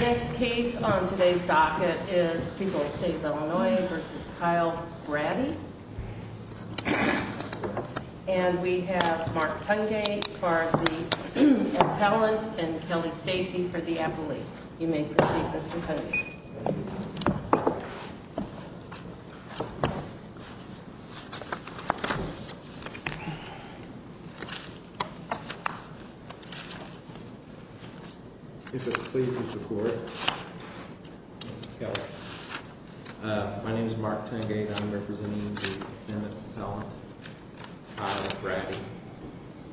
Next case on today's docket is People's State of Illinois v. Kyle Braddy And we have Mark Tungate for the appellant and Kelly Stacey for the appellate You may proceed Mr. Tungate If it pleases the court, my name is Mark Tungate and I'm representing the appellant, Kyle Braddy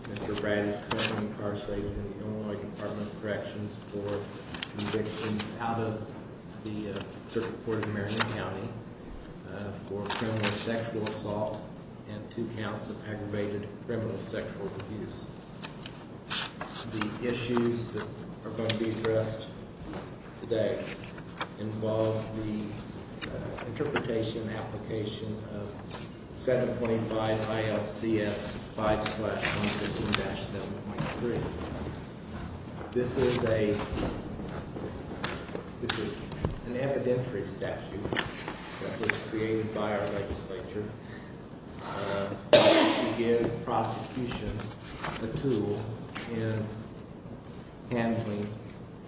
Mr. Braddy is currently incarcerated in the Illinois Department of Corrections for evictions out of the circuit court in Marion County For criminal sexual assault and two counts of aggravated criminal sexual abuse The issues that are going to be addressed today involve the interpretation and application of 7.5 ILCS 5-115-7.3 This is an evidentiary statute that was created by our legislature to give prosecution the tool in handling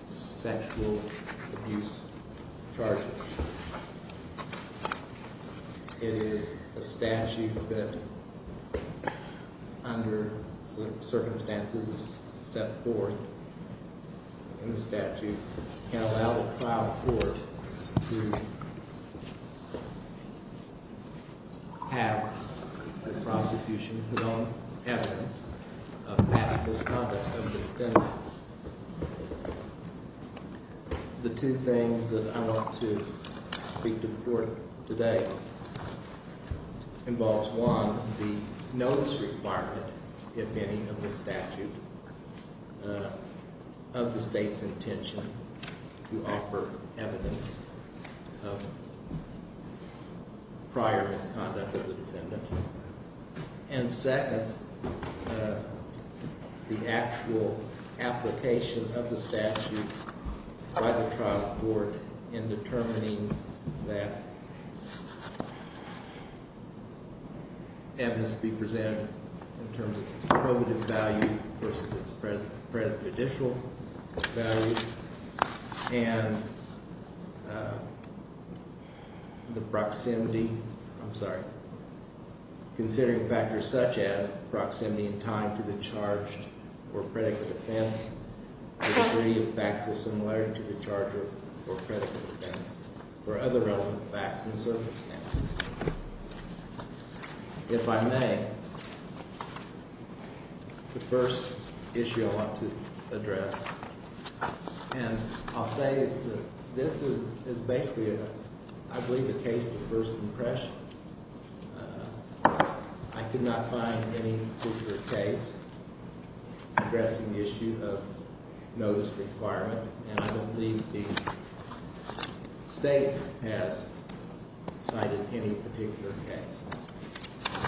sexual abuse charges It is a statute that under the circumstances set forth in the statute can allow the trial court to have the prosecution put on evidence of past misconduct of the defendant The two things that I want to speak to the court today involves, one, the notice requirement, if any, of the statute of the state's intention to offer evidence of prior misconduct of the defendant And second, the actual application of the statute by the trial court in determining that evidence be presented in terms of its probative value versus its prejudicial value And the proximity, I'm sorry, considering factors such as proximity in time to the charge or predicate of offense, the degree of factual similarity to the charge or predicate of offense, or other relevant facts and circumstances If I may, the first issue I want to address, and I'll say that this is basically, I believe, a case of first impression I could not find any particular case addressing the issue of notice requirement, and I don't believe the state has cited any particular case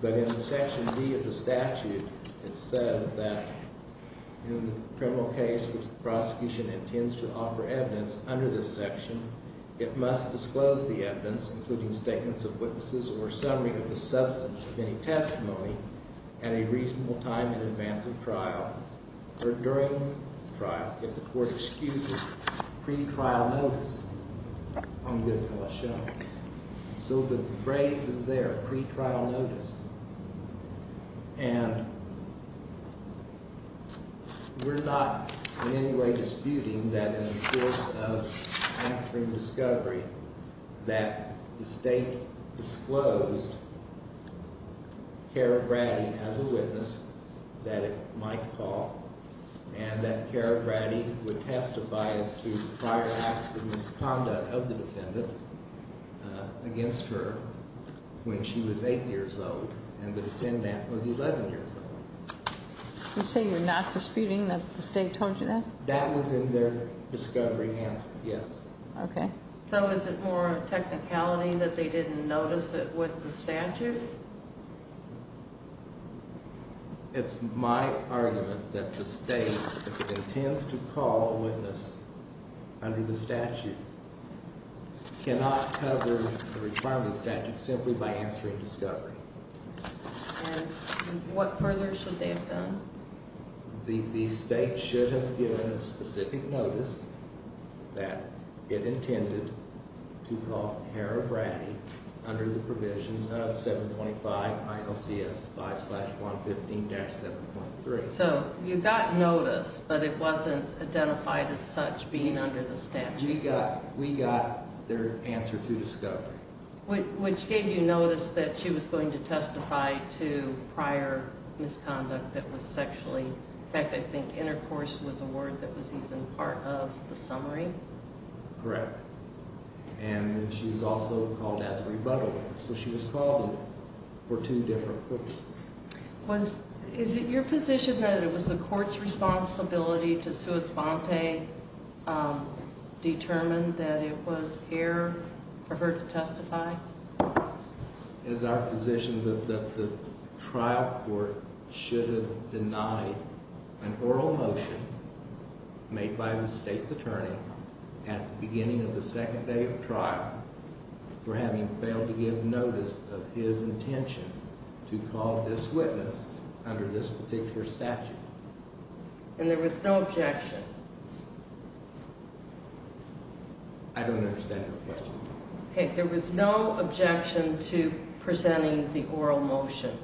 But in the section B of the statute, it says that in the criminal case which the prosecution intends to offer evidence under this section, it must disclose the evidence, including statements of witnesses or a summary of the substance of any testimony, at a reasonable time in advance of trial, or during trial, if the court excuses pre-trial notice So the phrase is there, pre-trial notice You say you're not disputing that the state told you that? That was in their discovery hands, yes Okay So is it more technicality that they didn't notice it with the statute? It's my argument that the state, if it intends to call a witness under the statute, cannot cover the requirement of the statute simply by answering discovery And what further should they have done? The state should have given a specific notice that it intended to call Harrah Braddy under the provisions of 725 ILCS 5-115-7.3 So you got notice, but it wasn't identified as such being under the statute? We got their answer to discovery Which gave you notice that she was going to testify to prior misconduct that was sexually, in fact I think intercourse was a word that was even part of the summary? Correct And she was also called as a rebuttal witness, so she was called in for two different purposes Is it your position that it was the court's responsibility to sua sponte determine that it was her preferred to testify? It is our position that the trial court should have denied an oral motion made by the state's attorney at the beginning of the second day of trial for having failed to give notice of his intention to call this witness under this particular statute And there was no objection? I don't understand your question There was no objection to presenting the oral motion?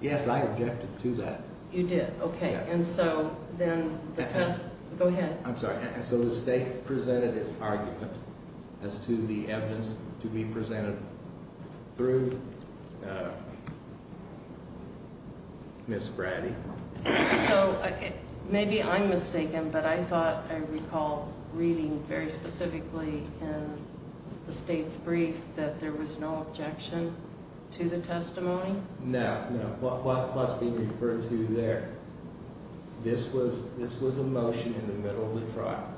Yes, I objected to that You did, okay, and so then Go ahead I'm sorry, so the state presented its argument as to the evidence to be presented through Ms. Braddy So maybe I'm mistaken, but I thought I recall reading very specifically in the state's brief that there was no objection to the testimony? No, no, what's being referred to there, this was a motion in the middle of the trial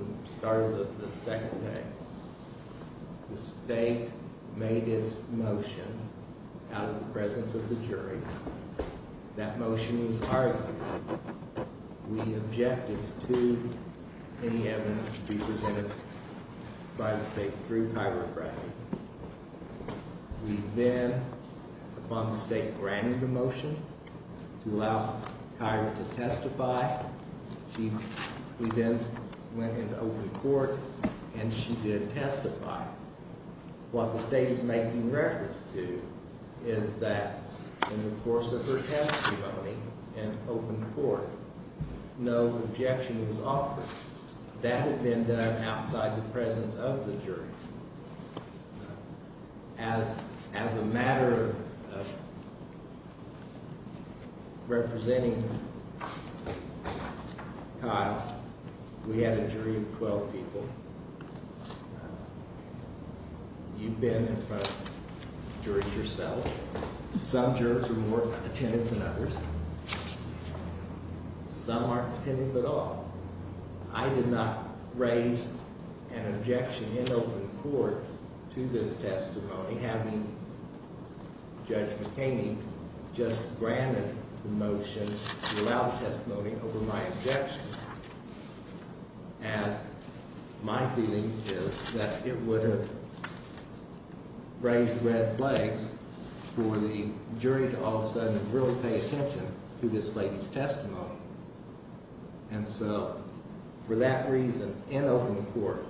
At the start of the second day, the state made its motion out of the presence of the jury That motion was argued We objected to any evidence to be presented by the state through Kyra Braddy We then, upon the state granting the motion, allowed Kyra to testify We then went into open court and she did testify What the state is making reference to is that in the course of her testimony in open court, no objection was offered That had been done outside the presence of the jury As a matter of representing Kyle, we had a jury of 12 people You've been in front of the jury yourself Some jurors are more attentive than others Some aren't attentive at all I did not raise an objection in open court to this testimony Having Judge McHaney just granted the motion to allow testimony over my objection And my feeling is that it would have raised red flags for the jury to all of a sudden really pay attention to this lady's testimony And so, for that reason, in open court,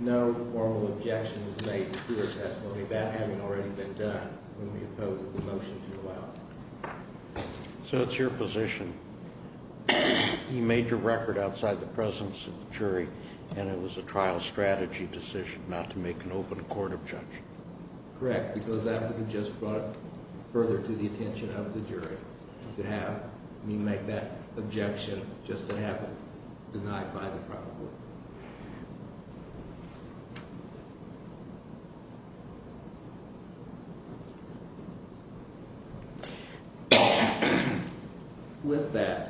no formal objection was made to her testimony That having already been done when we opposed the motion to allow So it's your position, you made your record outside the presence of the jury And it was a trial strategy decision not to make an open court objection Correct, because that would have just brought it further to the attention of the jury To have me make that objection just to have it denied by the trial court With that,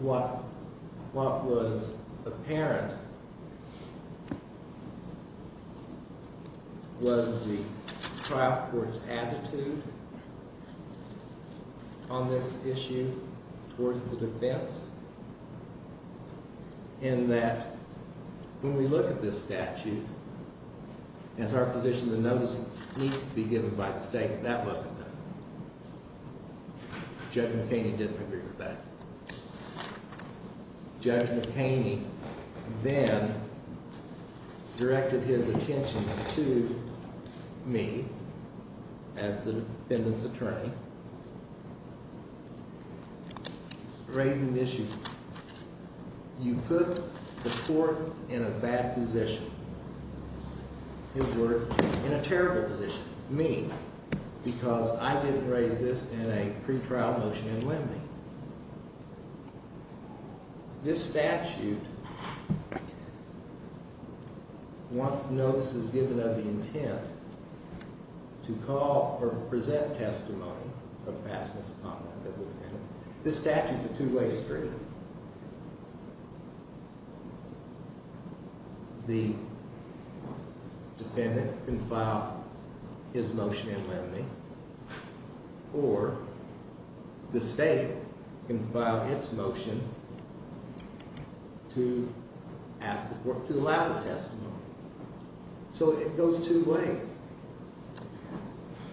what was apparent was the trial court's attitude on this issue Towards the defense In that, when we look at this statute As our position, the notice needs to be given by the state And that wasn't done Judge McHaney didn't agree with that Judge McHaney then directed his attention to me As the defendant's attorney Raising the issue You put the court in a bad position In a terrible position Me, because I didn't raise this in a pre-trial motion and when did? This statute Once the notice is given of the intent To call or present testimony Of past misconduct of the defendant This statute is a two-way street The defendant can file his motion in limine Or the state can file its motion To allow the testimony So it goes two ways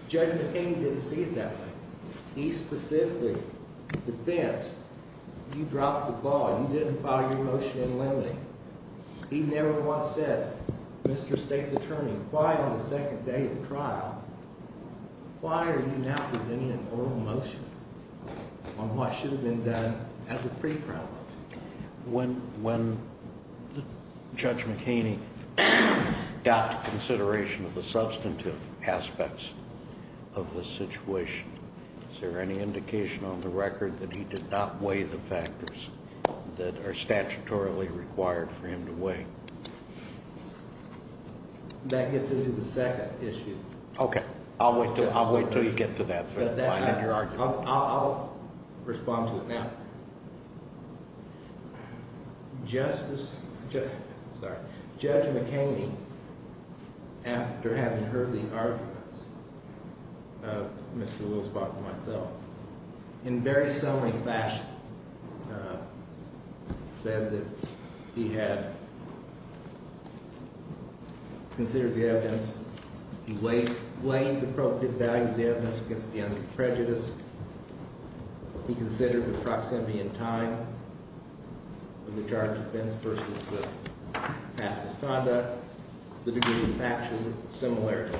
Judge McHaney didn't see it that way He specifically defends You dropped the ball, you didn't file your motion in limine He never once said Mr. State's attorney, why on the second day of the trial Why are you now presenting an oral motion On what should have been done as a pre-trial When Judge McHaney Got consideration of the substantive aspects Of the situation Is there any indication on the record that he did not weigh the factors That are statutorily required for him to weigh That gets into the second issue Okay, I'll wait until you get to that I'll respond to it now Judge McHaney After having heard the arguments Of Mr. Wilsbach and myself In very summing fashion Said that he had Considered the evidence He weighed the appropriate value of the evidence against the under prejudice He considered the proximity in time Of the charge of offense versus the past misconduct The degree of factual similarity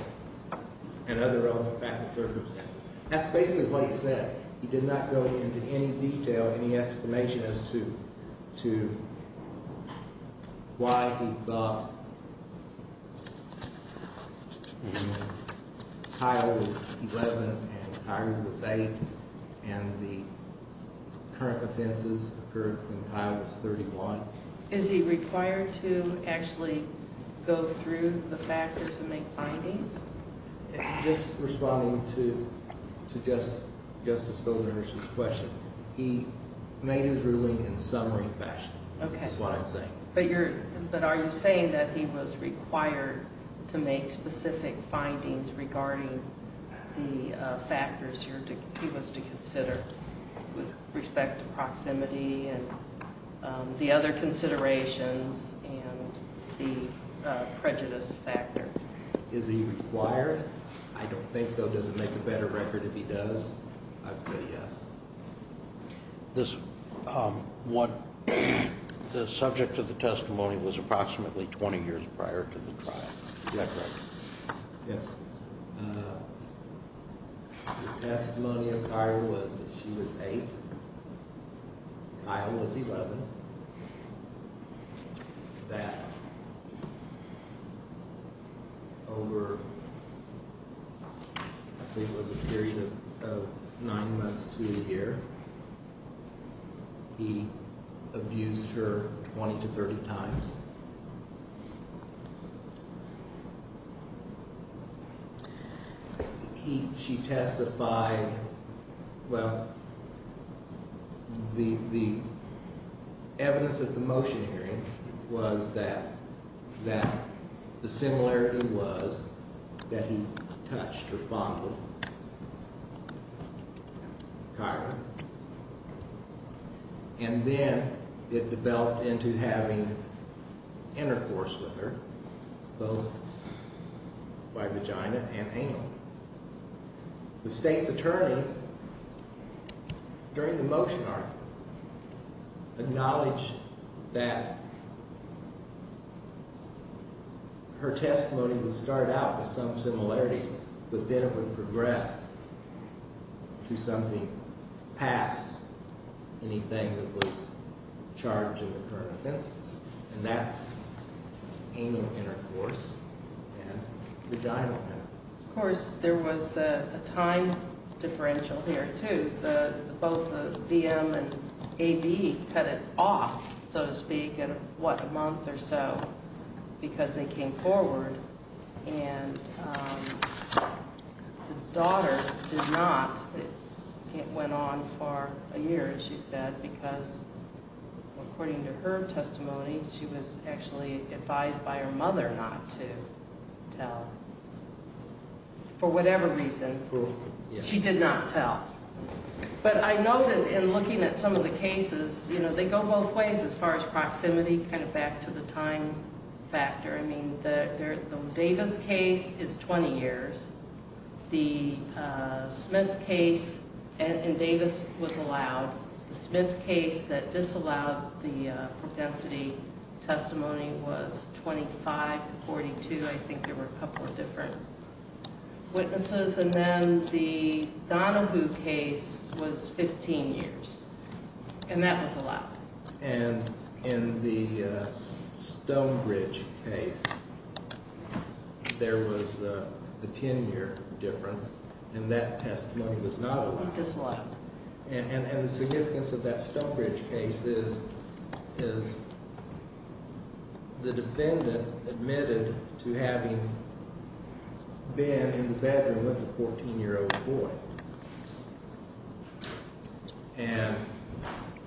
And other relevant factual circumstances That's basically what he said He did not go into any detail Any explanation as to Why he thought Kyle was 11 And Kyra was 8 And the current offenses Occurred when Kyle was 31 Is he required to actually Go through the factors and make findings Just responding to Justice Villeneuve's question He made his ruling in summing fashion That's what I'm saying But are you saying that he was required To make specific findings regarding The factors he was to consider With respect to proximity And the other considerations And the prejudice factor Is he required? I don't think so Does it make a better record if he does? I would say yes The subject of the testimony Was approximately 20 years prior to the trial Is that correct? Yes The testimony of Kyra was that she was 8 Kyle was 11 That Over I think it was a period of 9 months to a year He abused her 20 to 30 times She testified Well The evidence at the motion hearing Was that The similarity was that he touched Or fondled Kyra And then it developed into having Intercourse with her Both by vagina and anal The state's attorney During the motion article Acknowledged that Her testimony Would start out with some similarities But then it would progress To something past Anything that was charged And that's anal intercourse And vaginal intercourse Of course there was a time differential here too Both the VM and AB Cut it off so to speak In what, a month or so Because they came forward And the daughter did not It went on for a year She said because According to her testimony She was actually advised by her mother Not to tell For whatever reason She did not tell But I know that in looking at some of the cases They go both ways as far as proximity Back to the time factor The Davis case is 20 years The Smith case And Davis was allowed The Smith case that disallowed The propensity testimony Was 25 to 42 I think there were a couple of different witnesses And then the Donahue case Was 15 years And that was allowed And in the Stonebridge case There was a 10 year difference And that testimony was not allowed And the significance of that Stonebridge case Is The defendant admitted to having Been in the bedroom With a 14 year old boy And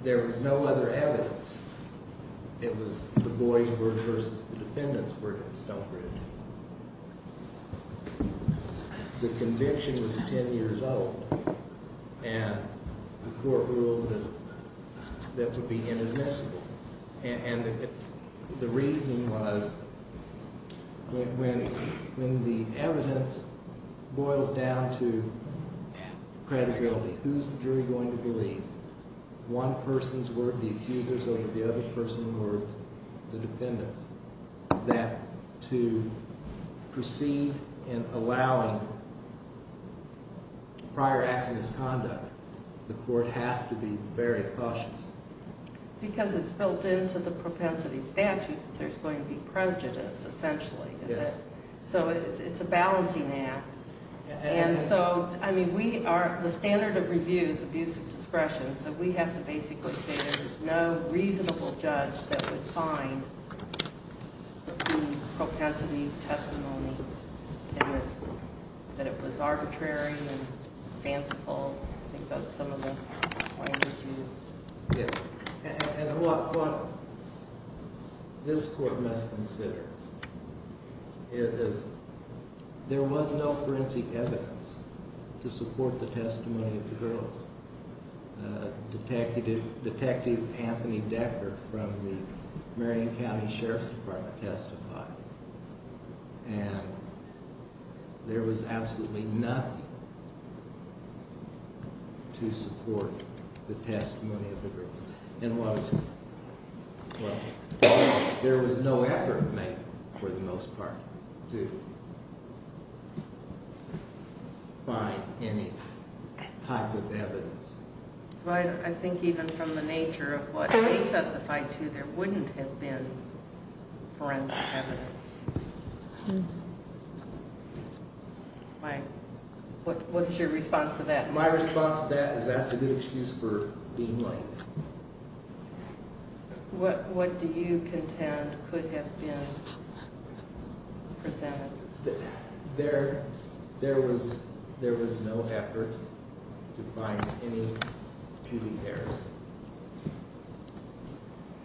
there was no other evidence It was the boys Versus the defendants were in Stonebridge The conviction was 10 years old And the court ruled That that would be inadmissible And the reasoning was When the evidence Boils down to credibility Who's the jury going to believe One person's word, the accusers Over the other person's word, the defendants That to proceed In allowing Prior acts of misconduct The court has to be very cautious Because it's built into the propensity statute That there's going to be prejudice, essentially So it's a balancing act And so, I mean, we are The standard of review is abuse of discretion So we have to basically say there's no reasonable judge That would find The propensity testimony That it was arbitrary And fanciful I think that's some of the language used And what this court must consider Is There was no forensic evidence To support the testimony of the girls Detective Anthony Decker From the Marion County Sheriff's Department Testified And there was absolutely nothing To support The testimony of the girls There was no effort made For the most part To Find any type of evidence I think even from the nature Of what they testified to There wouldn't have been forensic evidence What's your response to that? My response to that Is that's a good excuse for being late What do you contend Could have been There was There was no effort To find any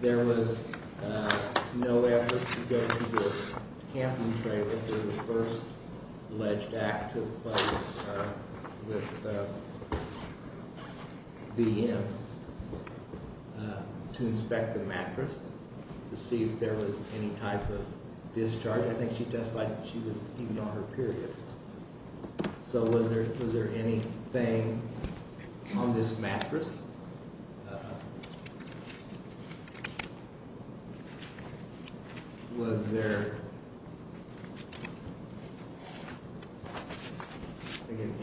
There was No effort to go To the first Alleged act With the To inspect the mattress To see if there was any type of Discharge So was there Anything On this mattress? Was there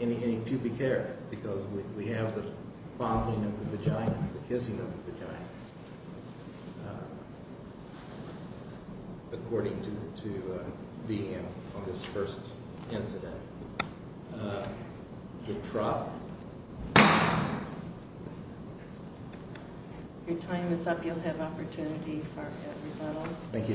Any To be Discussed With the Detectives? Was there Any To be Discussed With the Detectives? Thank you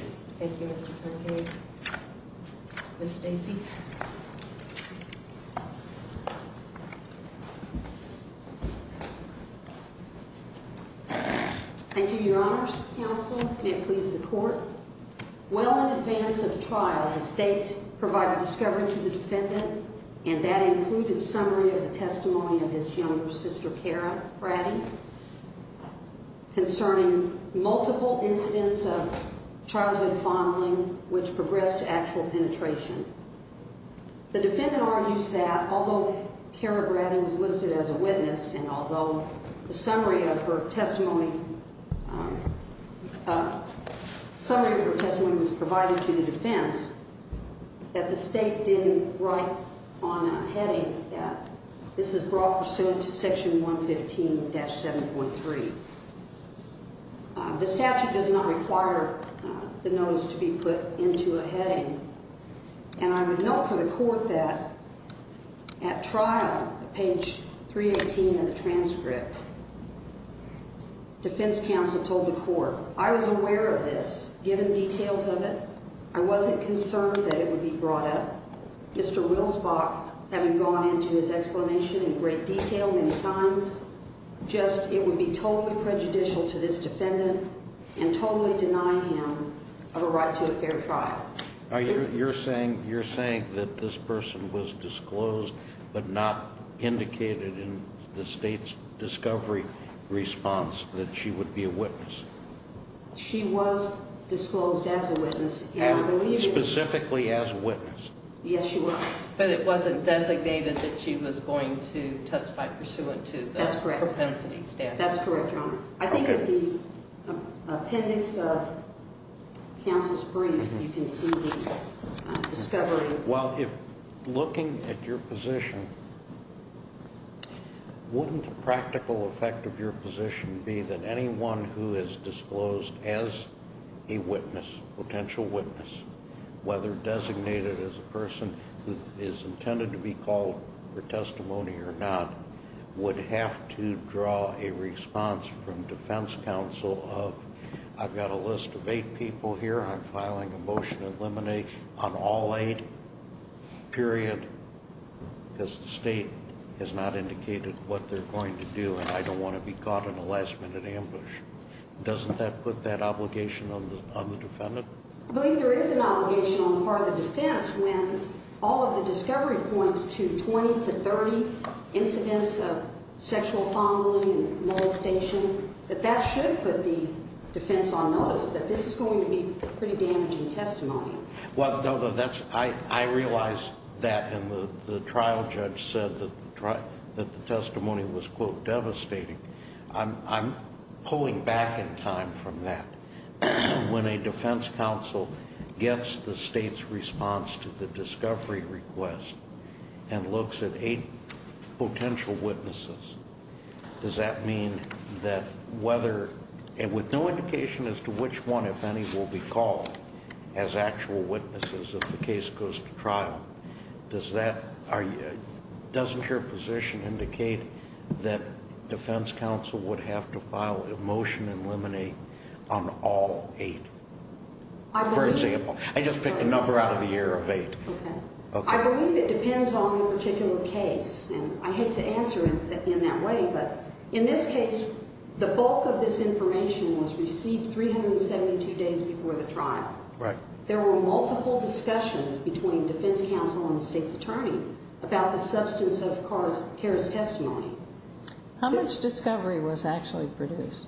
Thank you, your honors Counsel, may it please the court Well in advance of trial The state provided discovery to the defendant And that included summary of the testimony Of his younger sister Cara Prattie Concerning multiple incidents Of childhood fondling Which progressed to actual penetration The defendant argues that although Cara Prattie was listed as a witness And although the summary of her testimony Summary of her testimony Was provided to the defense That the state didn't write on a heading That this is brought pursuant to section 115-7.3 The statute does not require The notice to be put into a heading And I would note for the court that At trial, page 318 Of the transcript Defense counsel told the court I was aware of this, given details of it I wasn't concerned that it would be brought up Mr. Wilsbach having gone into his explanation In great detail many times It would be totally prejudicial to this defendant And totally deny him a right to a fair trial You're saying that this person Was disclosed but not indicated In the state's discovery response That she would be a witness She was disclosed as a witness Specifically as a witness Yes, she was But it wasn't designated that she was going to testify Pursuant to the propensity statute That's correct, your honor I think in the appendix of counsel's brief You can see the discovery Well, if looking at your position Wouldn't the practical effect of your position Be that anyone who is disclosed as a witness Whether designated as a person Who is intended to be called for testimony or not Would have to draw a response From defense counsel of I've got a list of eight people here I'm filing a motion to eliminate on all eight Period Because the state has not indicated what they're going to do And I don't want to be caught in a last minute ambush Doesn't that put that obligation on the defendant? I believe there is an obligation on the part of the defense When all of the discovery points to Twenty to thirty incidents of sexual Fondling and molestation That that should put the defense on notice That this is going to be pretty damaging testimony Well, I realize that And the trial judge said that the testimony Was, quote, devastating I'm pulling back in time from that When a defense counsel gets the state's response To the discovery request And looks at eight potential witnesses Does that mean that whether And with no indication as to which one, if any Will be called as actual witnesses If the case goes to trial Does that, doesn't your position indicate That defense counsel would have to file A motion to eliminate on all eight For example I just picked a number out of the year of eight I believe it depends on the particular case And I hate to answer in that way But in this case, the bulk of this information Was received 372 days before the trial There were multiple discussions Between defense counsel and the state's attorney About the substance of Carr's testimony How much discovery was actually produced?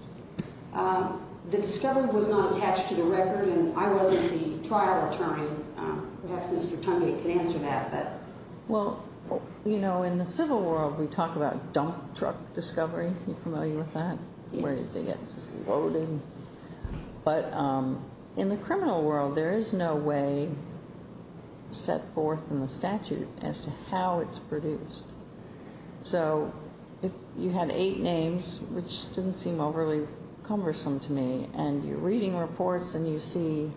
The discovery was not attached to the record And I wasn't the trial attorney Perhaps Mr. Tungate can answer that Well, you know, in the civil world We talk about dump truck discovery You familiar with that? But in the criminal world There is no way set forth in the statute As to how it's produced So if you had eight names Which didn't seem overly cumbersome to me And you're reading reports and you see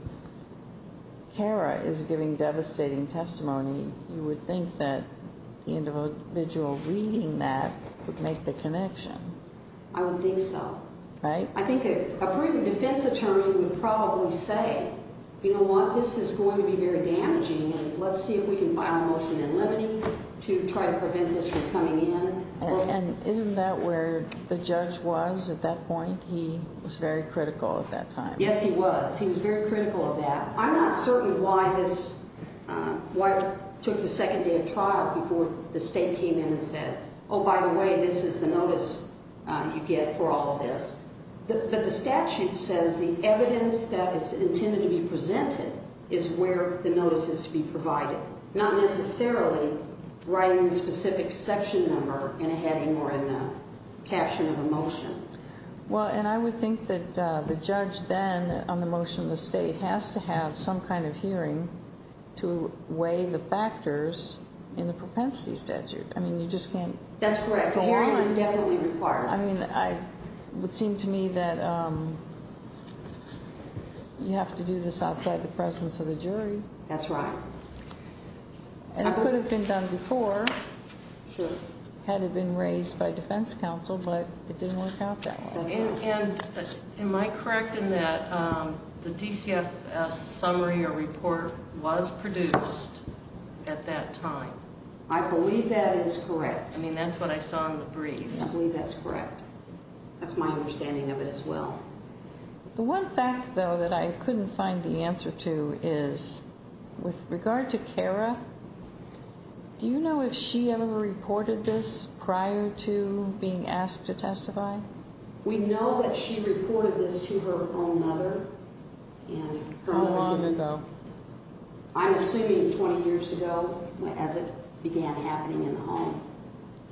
Carr is giving devastating testimony You would think that the individual reading that Would make the connection I would think so I think a proven defense attorney would probably say You know what, this is going to be very damaging And let's see if we can file a motion in limine To try to prevent this from coming in And isn't that where the judge was at that point? He was very critical at that time Yes, he was. He was very critical of that I'm not certain why this Why it took the second day of trial Before the state came in and said Oh, by the way, this is the notice you get for all of this But the statute says the evidence That is intended to be presented Is where the notice is to be provided Not necessarily writing a specific section number In a heading or in the caption of a motion Well, and I would think that the judge then On the motion of the state has to have some kind of hearing To weigh the factors In the propensity statute I mean, you just can't I mean, it would seem to me that You have to do this outside the presence of the jury That's right And it could have been done before Had it been raised by defense counsel But it didn't work out that way And am I correct in that The DCFS summary or report was produced At that time I believe that is correct I mean, that's what I saw in the brief That's my understanding of it as well The one fact, though, that I couldn't find the answer to Is with regard to Cara Do you know if she ever reported this Prior to being asked to testify We know that she reported this to her own mother How long ago I'm assuming 20 years ago As it began happening in the home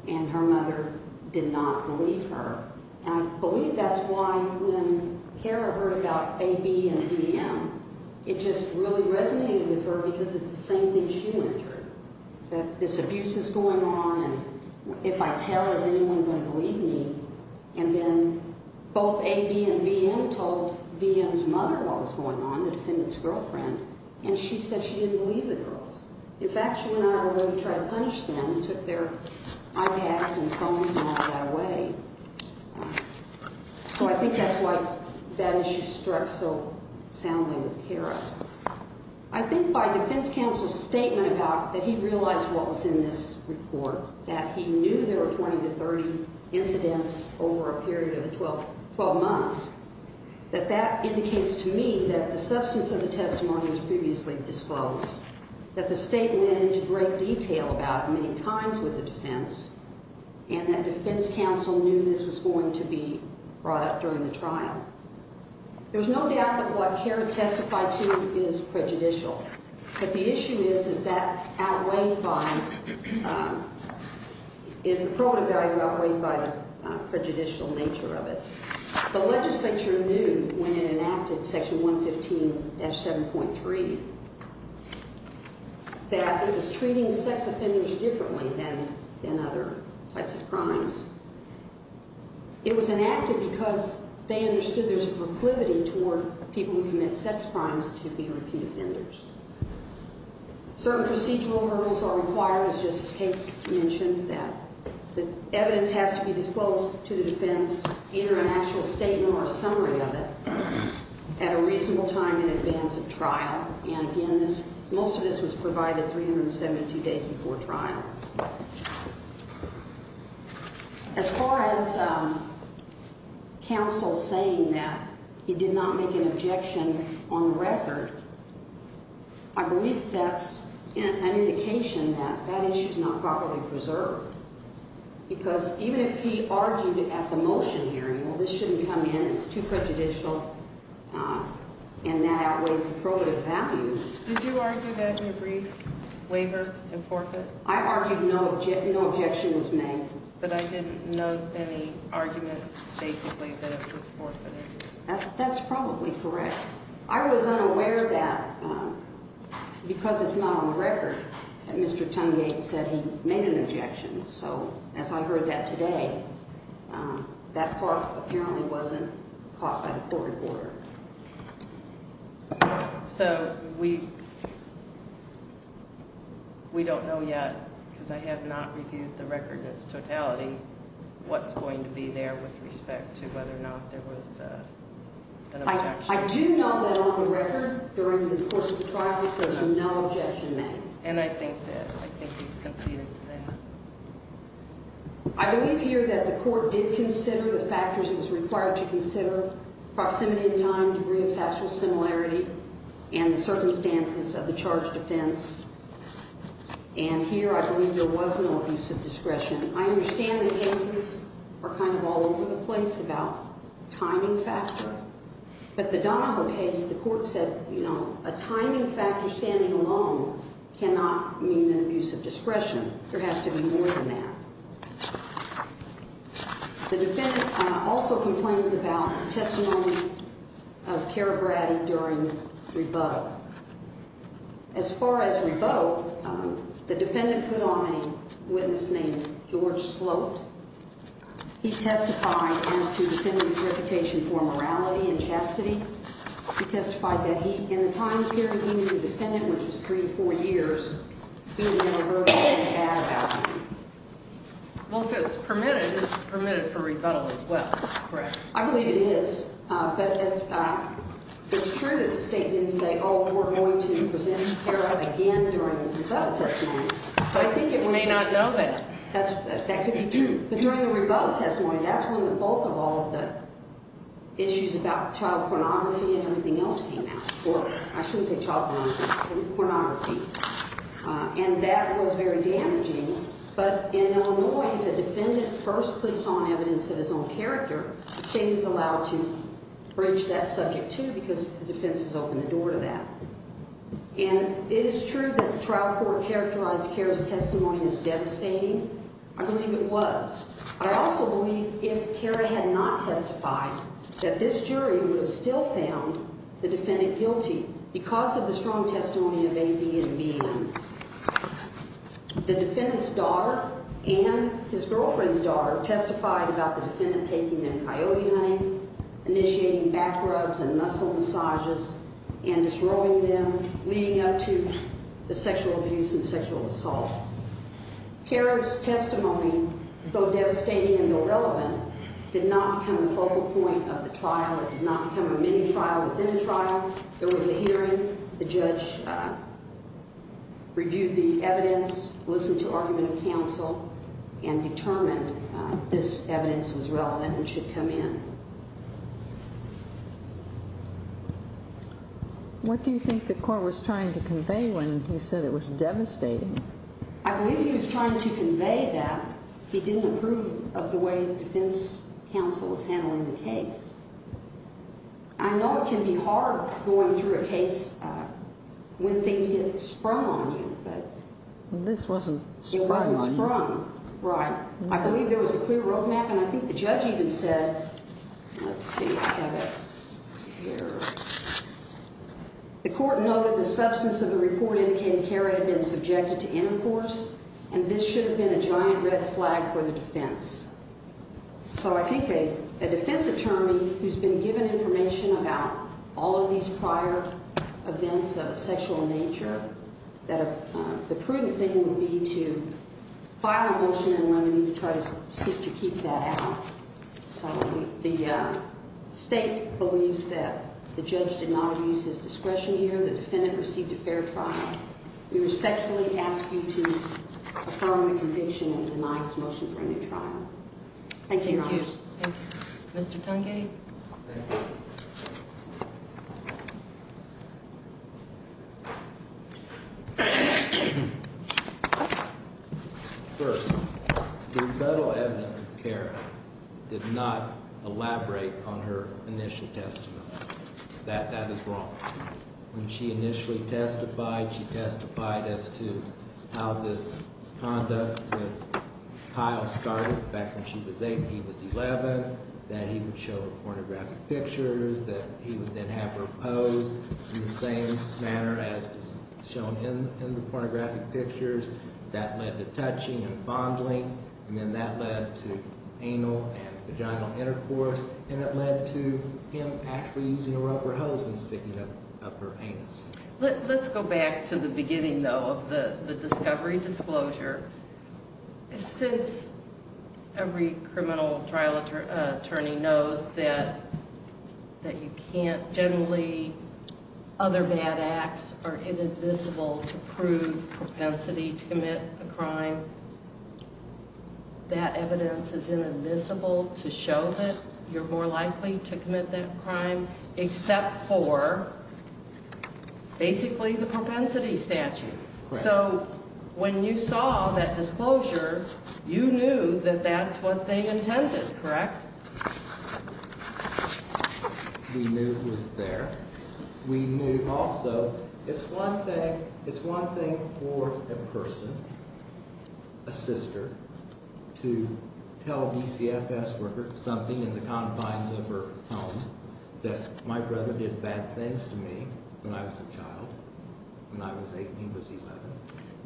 And her mother did not believe her And I believe that's why When Cara heard about A.B. and V.M. It just really resonated with her Because it's the same thing she went through That this abuse is going on And if I tell, is anyone going to believe me And then both A.B. and V.M. told V.M.'s mother What was going on, the defendant's girlfriend And she said she didn't believe the girls In fact, she went out of her way to try to punish them And took their iPads and phones And never got away So I think that's why that issue struck so soundly with Cara I think by defense counsel's statement About that he realized what was in this report That he knew there were 20 to 30 incidents Over a period of 12 months That that indicates to me that the substance of the testimony Was previously disclosed And that the state went into great detail about it Many times with the defense And that defense counsel knew this was going to be brought up During the trial There's no doubt that what Cara testified to is prejudicial But the issue is, is that outweighed by Is the proven value outweighed by The prejudicial nature of it The legislature knew when it enacted Section 115-7.3 That it was treating sex offenders Differently than other types of crimes It was enacted Because they understood there's a proclivity toward People who commit sex crimes to be repeat offenders Certain procedural rules are required As Justice Cates mentioned That the evidence has to be disclosed to the defense Either an actual statement or a summary of it At a reasonable time in advance of trial And again, most of this was provided 372 days before trial As far as Counsel saying that He did not make an objection on the record I believe that's an indication That that issue's not properly preserved Because even if he argued At the motion hearing, well this shouldn't come in It's too prejudicial And that outweighs the probative value Did you argue that you agreed? Waiver and forfeit? I argued no objection was made But I didn't note any argument Basically that it was forfeited That's probably correct I was unaware that Because it's not on the record That Mr. Tungate said he made an objection So as I heard that today That part apparently wasn't caught by the court reporter So we We don't know yet Because I have not reviewed the record in its totality What's going to be there with respect to Whether or not there was an objection I do know that on the record During the course of the trial there was no objection made And I think that he conceded to that I believe here that the court did consider The factors it was required to consider Proximity in time, degree of factual similarity And the circumstances of the charged offense And here I believe there was no abuse of discretion I understand the cases are kind of all over the place About timing factor But the Donoho case, the court said A timing factor standing alone cannot mean an abuse of discretion There has to be more than that The defendant Also complains about testimony Of Karabrati during rebuttal As far as rebuttal The defendant put on a witness Named George Sloat He testified as to the defendant's reputation for morality And chastity He testified that in the time period he was a defendant Which was three or four years He never heard anything bad about him If it's permitted, it's permitted for rebuttal as well I believe it is But it's true that the state didn't say Oh, we're going to present Kara again During the rebuttal testimony It may not know that But during the rebuttal testimony That's when the bulk of all the issues about child pornography And everything else came out Or I shouldn't say child pornography, pornography And that was very damaging But in Illinois, the defendant first Puts on evidence of his own character The state is allowed to bridge that subject too Because the defense has opened the door to that And it is true that the trial court characterized Kara's testimony As devastating I believe it was I also believe if Kara had not testified That this jury would have still found the defendant guilty Because of the strong testimony of A.B. and B.M. The defendant's daughter And his girlfriend's daughter testified About the defendant taking them coyote hunting Initiating back rubs and muscle massages And disrobing them, leading up to The sexual abuse and sexual assault Kara's testimony, though devastating and though relevant Did not become a focal point of the trial It did not become a mini-trial within a trial There was a hearing, the judge Reviewed the evidence, listened to argument of counsel And determined this evidence was relevant And should come in What do you think the court was trying to convey When he said it was devastating? I believe he was trying to convey that He didn't approve of the way the defense counsel Was handling the case I know it can be hard going through a case When things get sprung on you This wasn't sprung on you I believe there was a clear road map And I think the judge even said Let's see The court noted the substance of the report The court indicated Kara had been subjected to intercourse And this should have been a giant red flag for the defense So I think a defense attorney Who's been given information about all of these prior Events of a sexual nature That the prudent thing would be to File a motion in Lemony to try to Seek to keep that out So the state believes that the judge did not Use his discretion here The defendant received a fair trial We respectfully ask you to affirm the conviction And deny his motion for a new trial First, the federal evidence of Kara Did not elaborate on her initial testimony That is wrong When she initially testified She testified as to how this Conduct with Kyle started Back when she was 8 and he was 11 That he would show the pornographic pictures That he would then have her pose In the same manner as was shown in the pornographic pictures That led to touching and fondling And then that led to anal and vaginal intercourse And it led to him actually using a rubber hose And sticking it up her anus Let's go back to the beginning though Of the discovery disclosure Since every criminal trial attorney knows That you can't generally Other bad acts are Invisible to prove propensity To commit a crime That evidence is invisible to show that You're more likely to commit that crime Except for basically The propensity statute So when you saw that disclosure You knew that that's what they intended, correct? We knew it was there We knew also It's one thing for a person A sister To tell a DCFS worker something In the confines of her home That my brother did bad things to me When I was a child When I was 8 and he was 11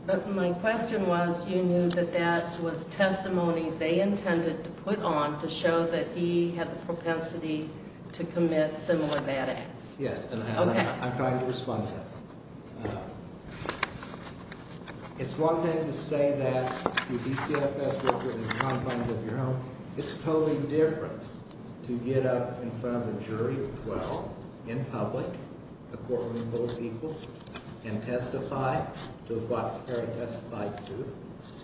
But my question was You knew that that was testimony They intended to put on To show that he had the propensity To commit similar bad acts Yes, and I'm trying to respond to that It's one thing to say that If you're a DCFS worker In the confines of your home It's totally different to get up in front of a jury In public And testify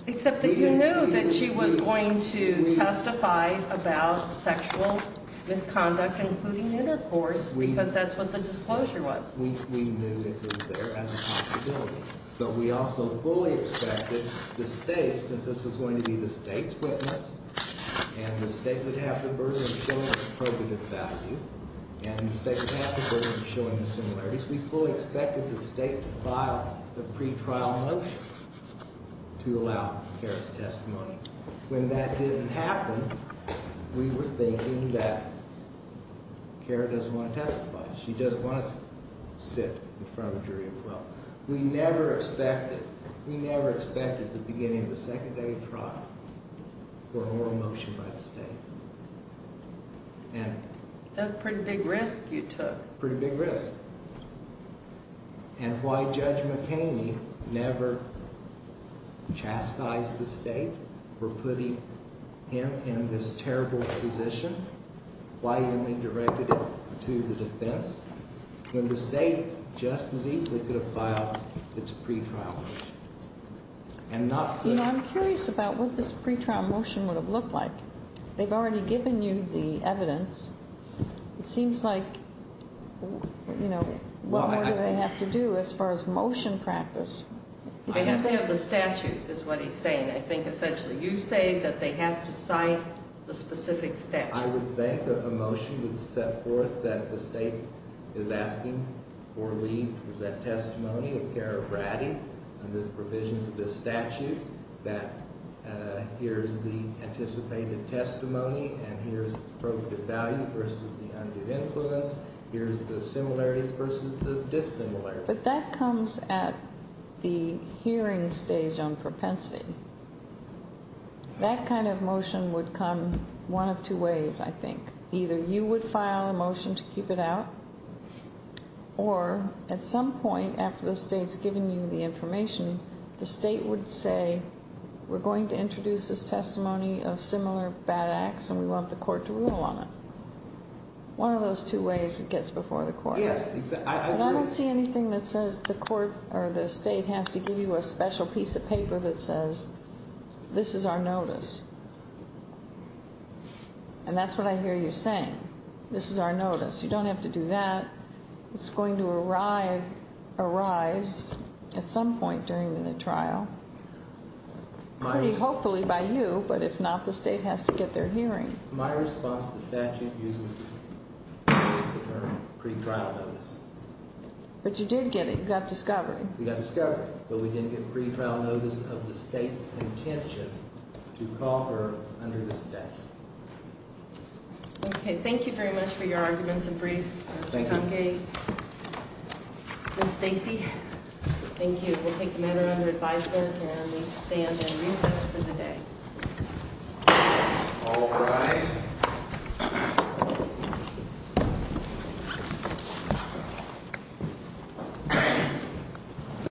Except that you knew That she was going to testify About sexual misconduct including intercourse Because that's what the disclosure was We knew it was there as a possibility But we also fully expected the state Since this was going to be the state's witness And the state would have the burden Of showing the appropriate value And the state would have the burden Of showing the similarities We fully expected the state to file The pre-trial motion to allow Kara's testimony When that didn't happen We were thinking that She doesn't want to sit in front of a jury We never expected At the beginning of the second day For a moral motion by the state That's a pretty big risk you took Pretty big risk And why Judge McHaney never Chastised the state For putting him in this terrible position Why he only directed it to the defense When the state just as easily Could have filed its pre-trial motion I'm curious about what this pre-trial motion Would have looked like They've already given you the evidence It seems like What more do they have to do as far as motion practice I have to have the statute I think essentially you say That they have to cite the specific statute I would think a motion would set forth That the state is asking for The testimony of Kara Bratty Under the provisions of the statute That here's the anticipated testimony And here's the appropriate value Versus the undue influence Here's the similarities versus the dissimilarities But that comes at the hearing stage On propensity That kind of motion would come one of two ways Either you would file a motion to keep it out Or at some point After the state's given you the information The state would say We're going to introduce this testimony of similar bad acts And we want the court to rule on it One of those two ways it gets before the court I don't see anything that says the state has to give you A special piece of paper that says This is our notice And that's what I hear you saying This is our notice, you don't have to do that It's going to arise at some point during the trial Hopefully by you But if not, the state has to get their hearing My response to the statute uses the term Pre-trial notice But you did get it, you got discovery We got discovery, but we didn't get pre-trial notice of the state's intention To call her under the statute Okay, thank you very much for your arguments and briefs Thank you Ms. Stacy, thank you Okay, we'll take the matter under advisement And we stand at recess for the day All rise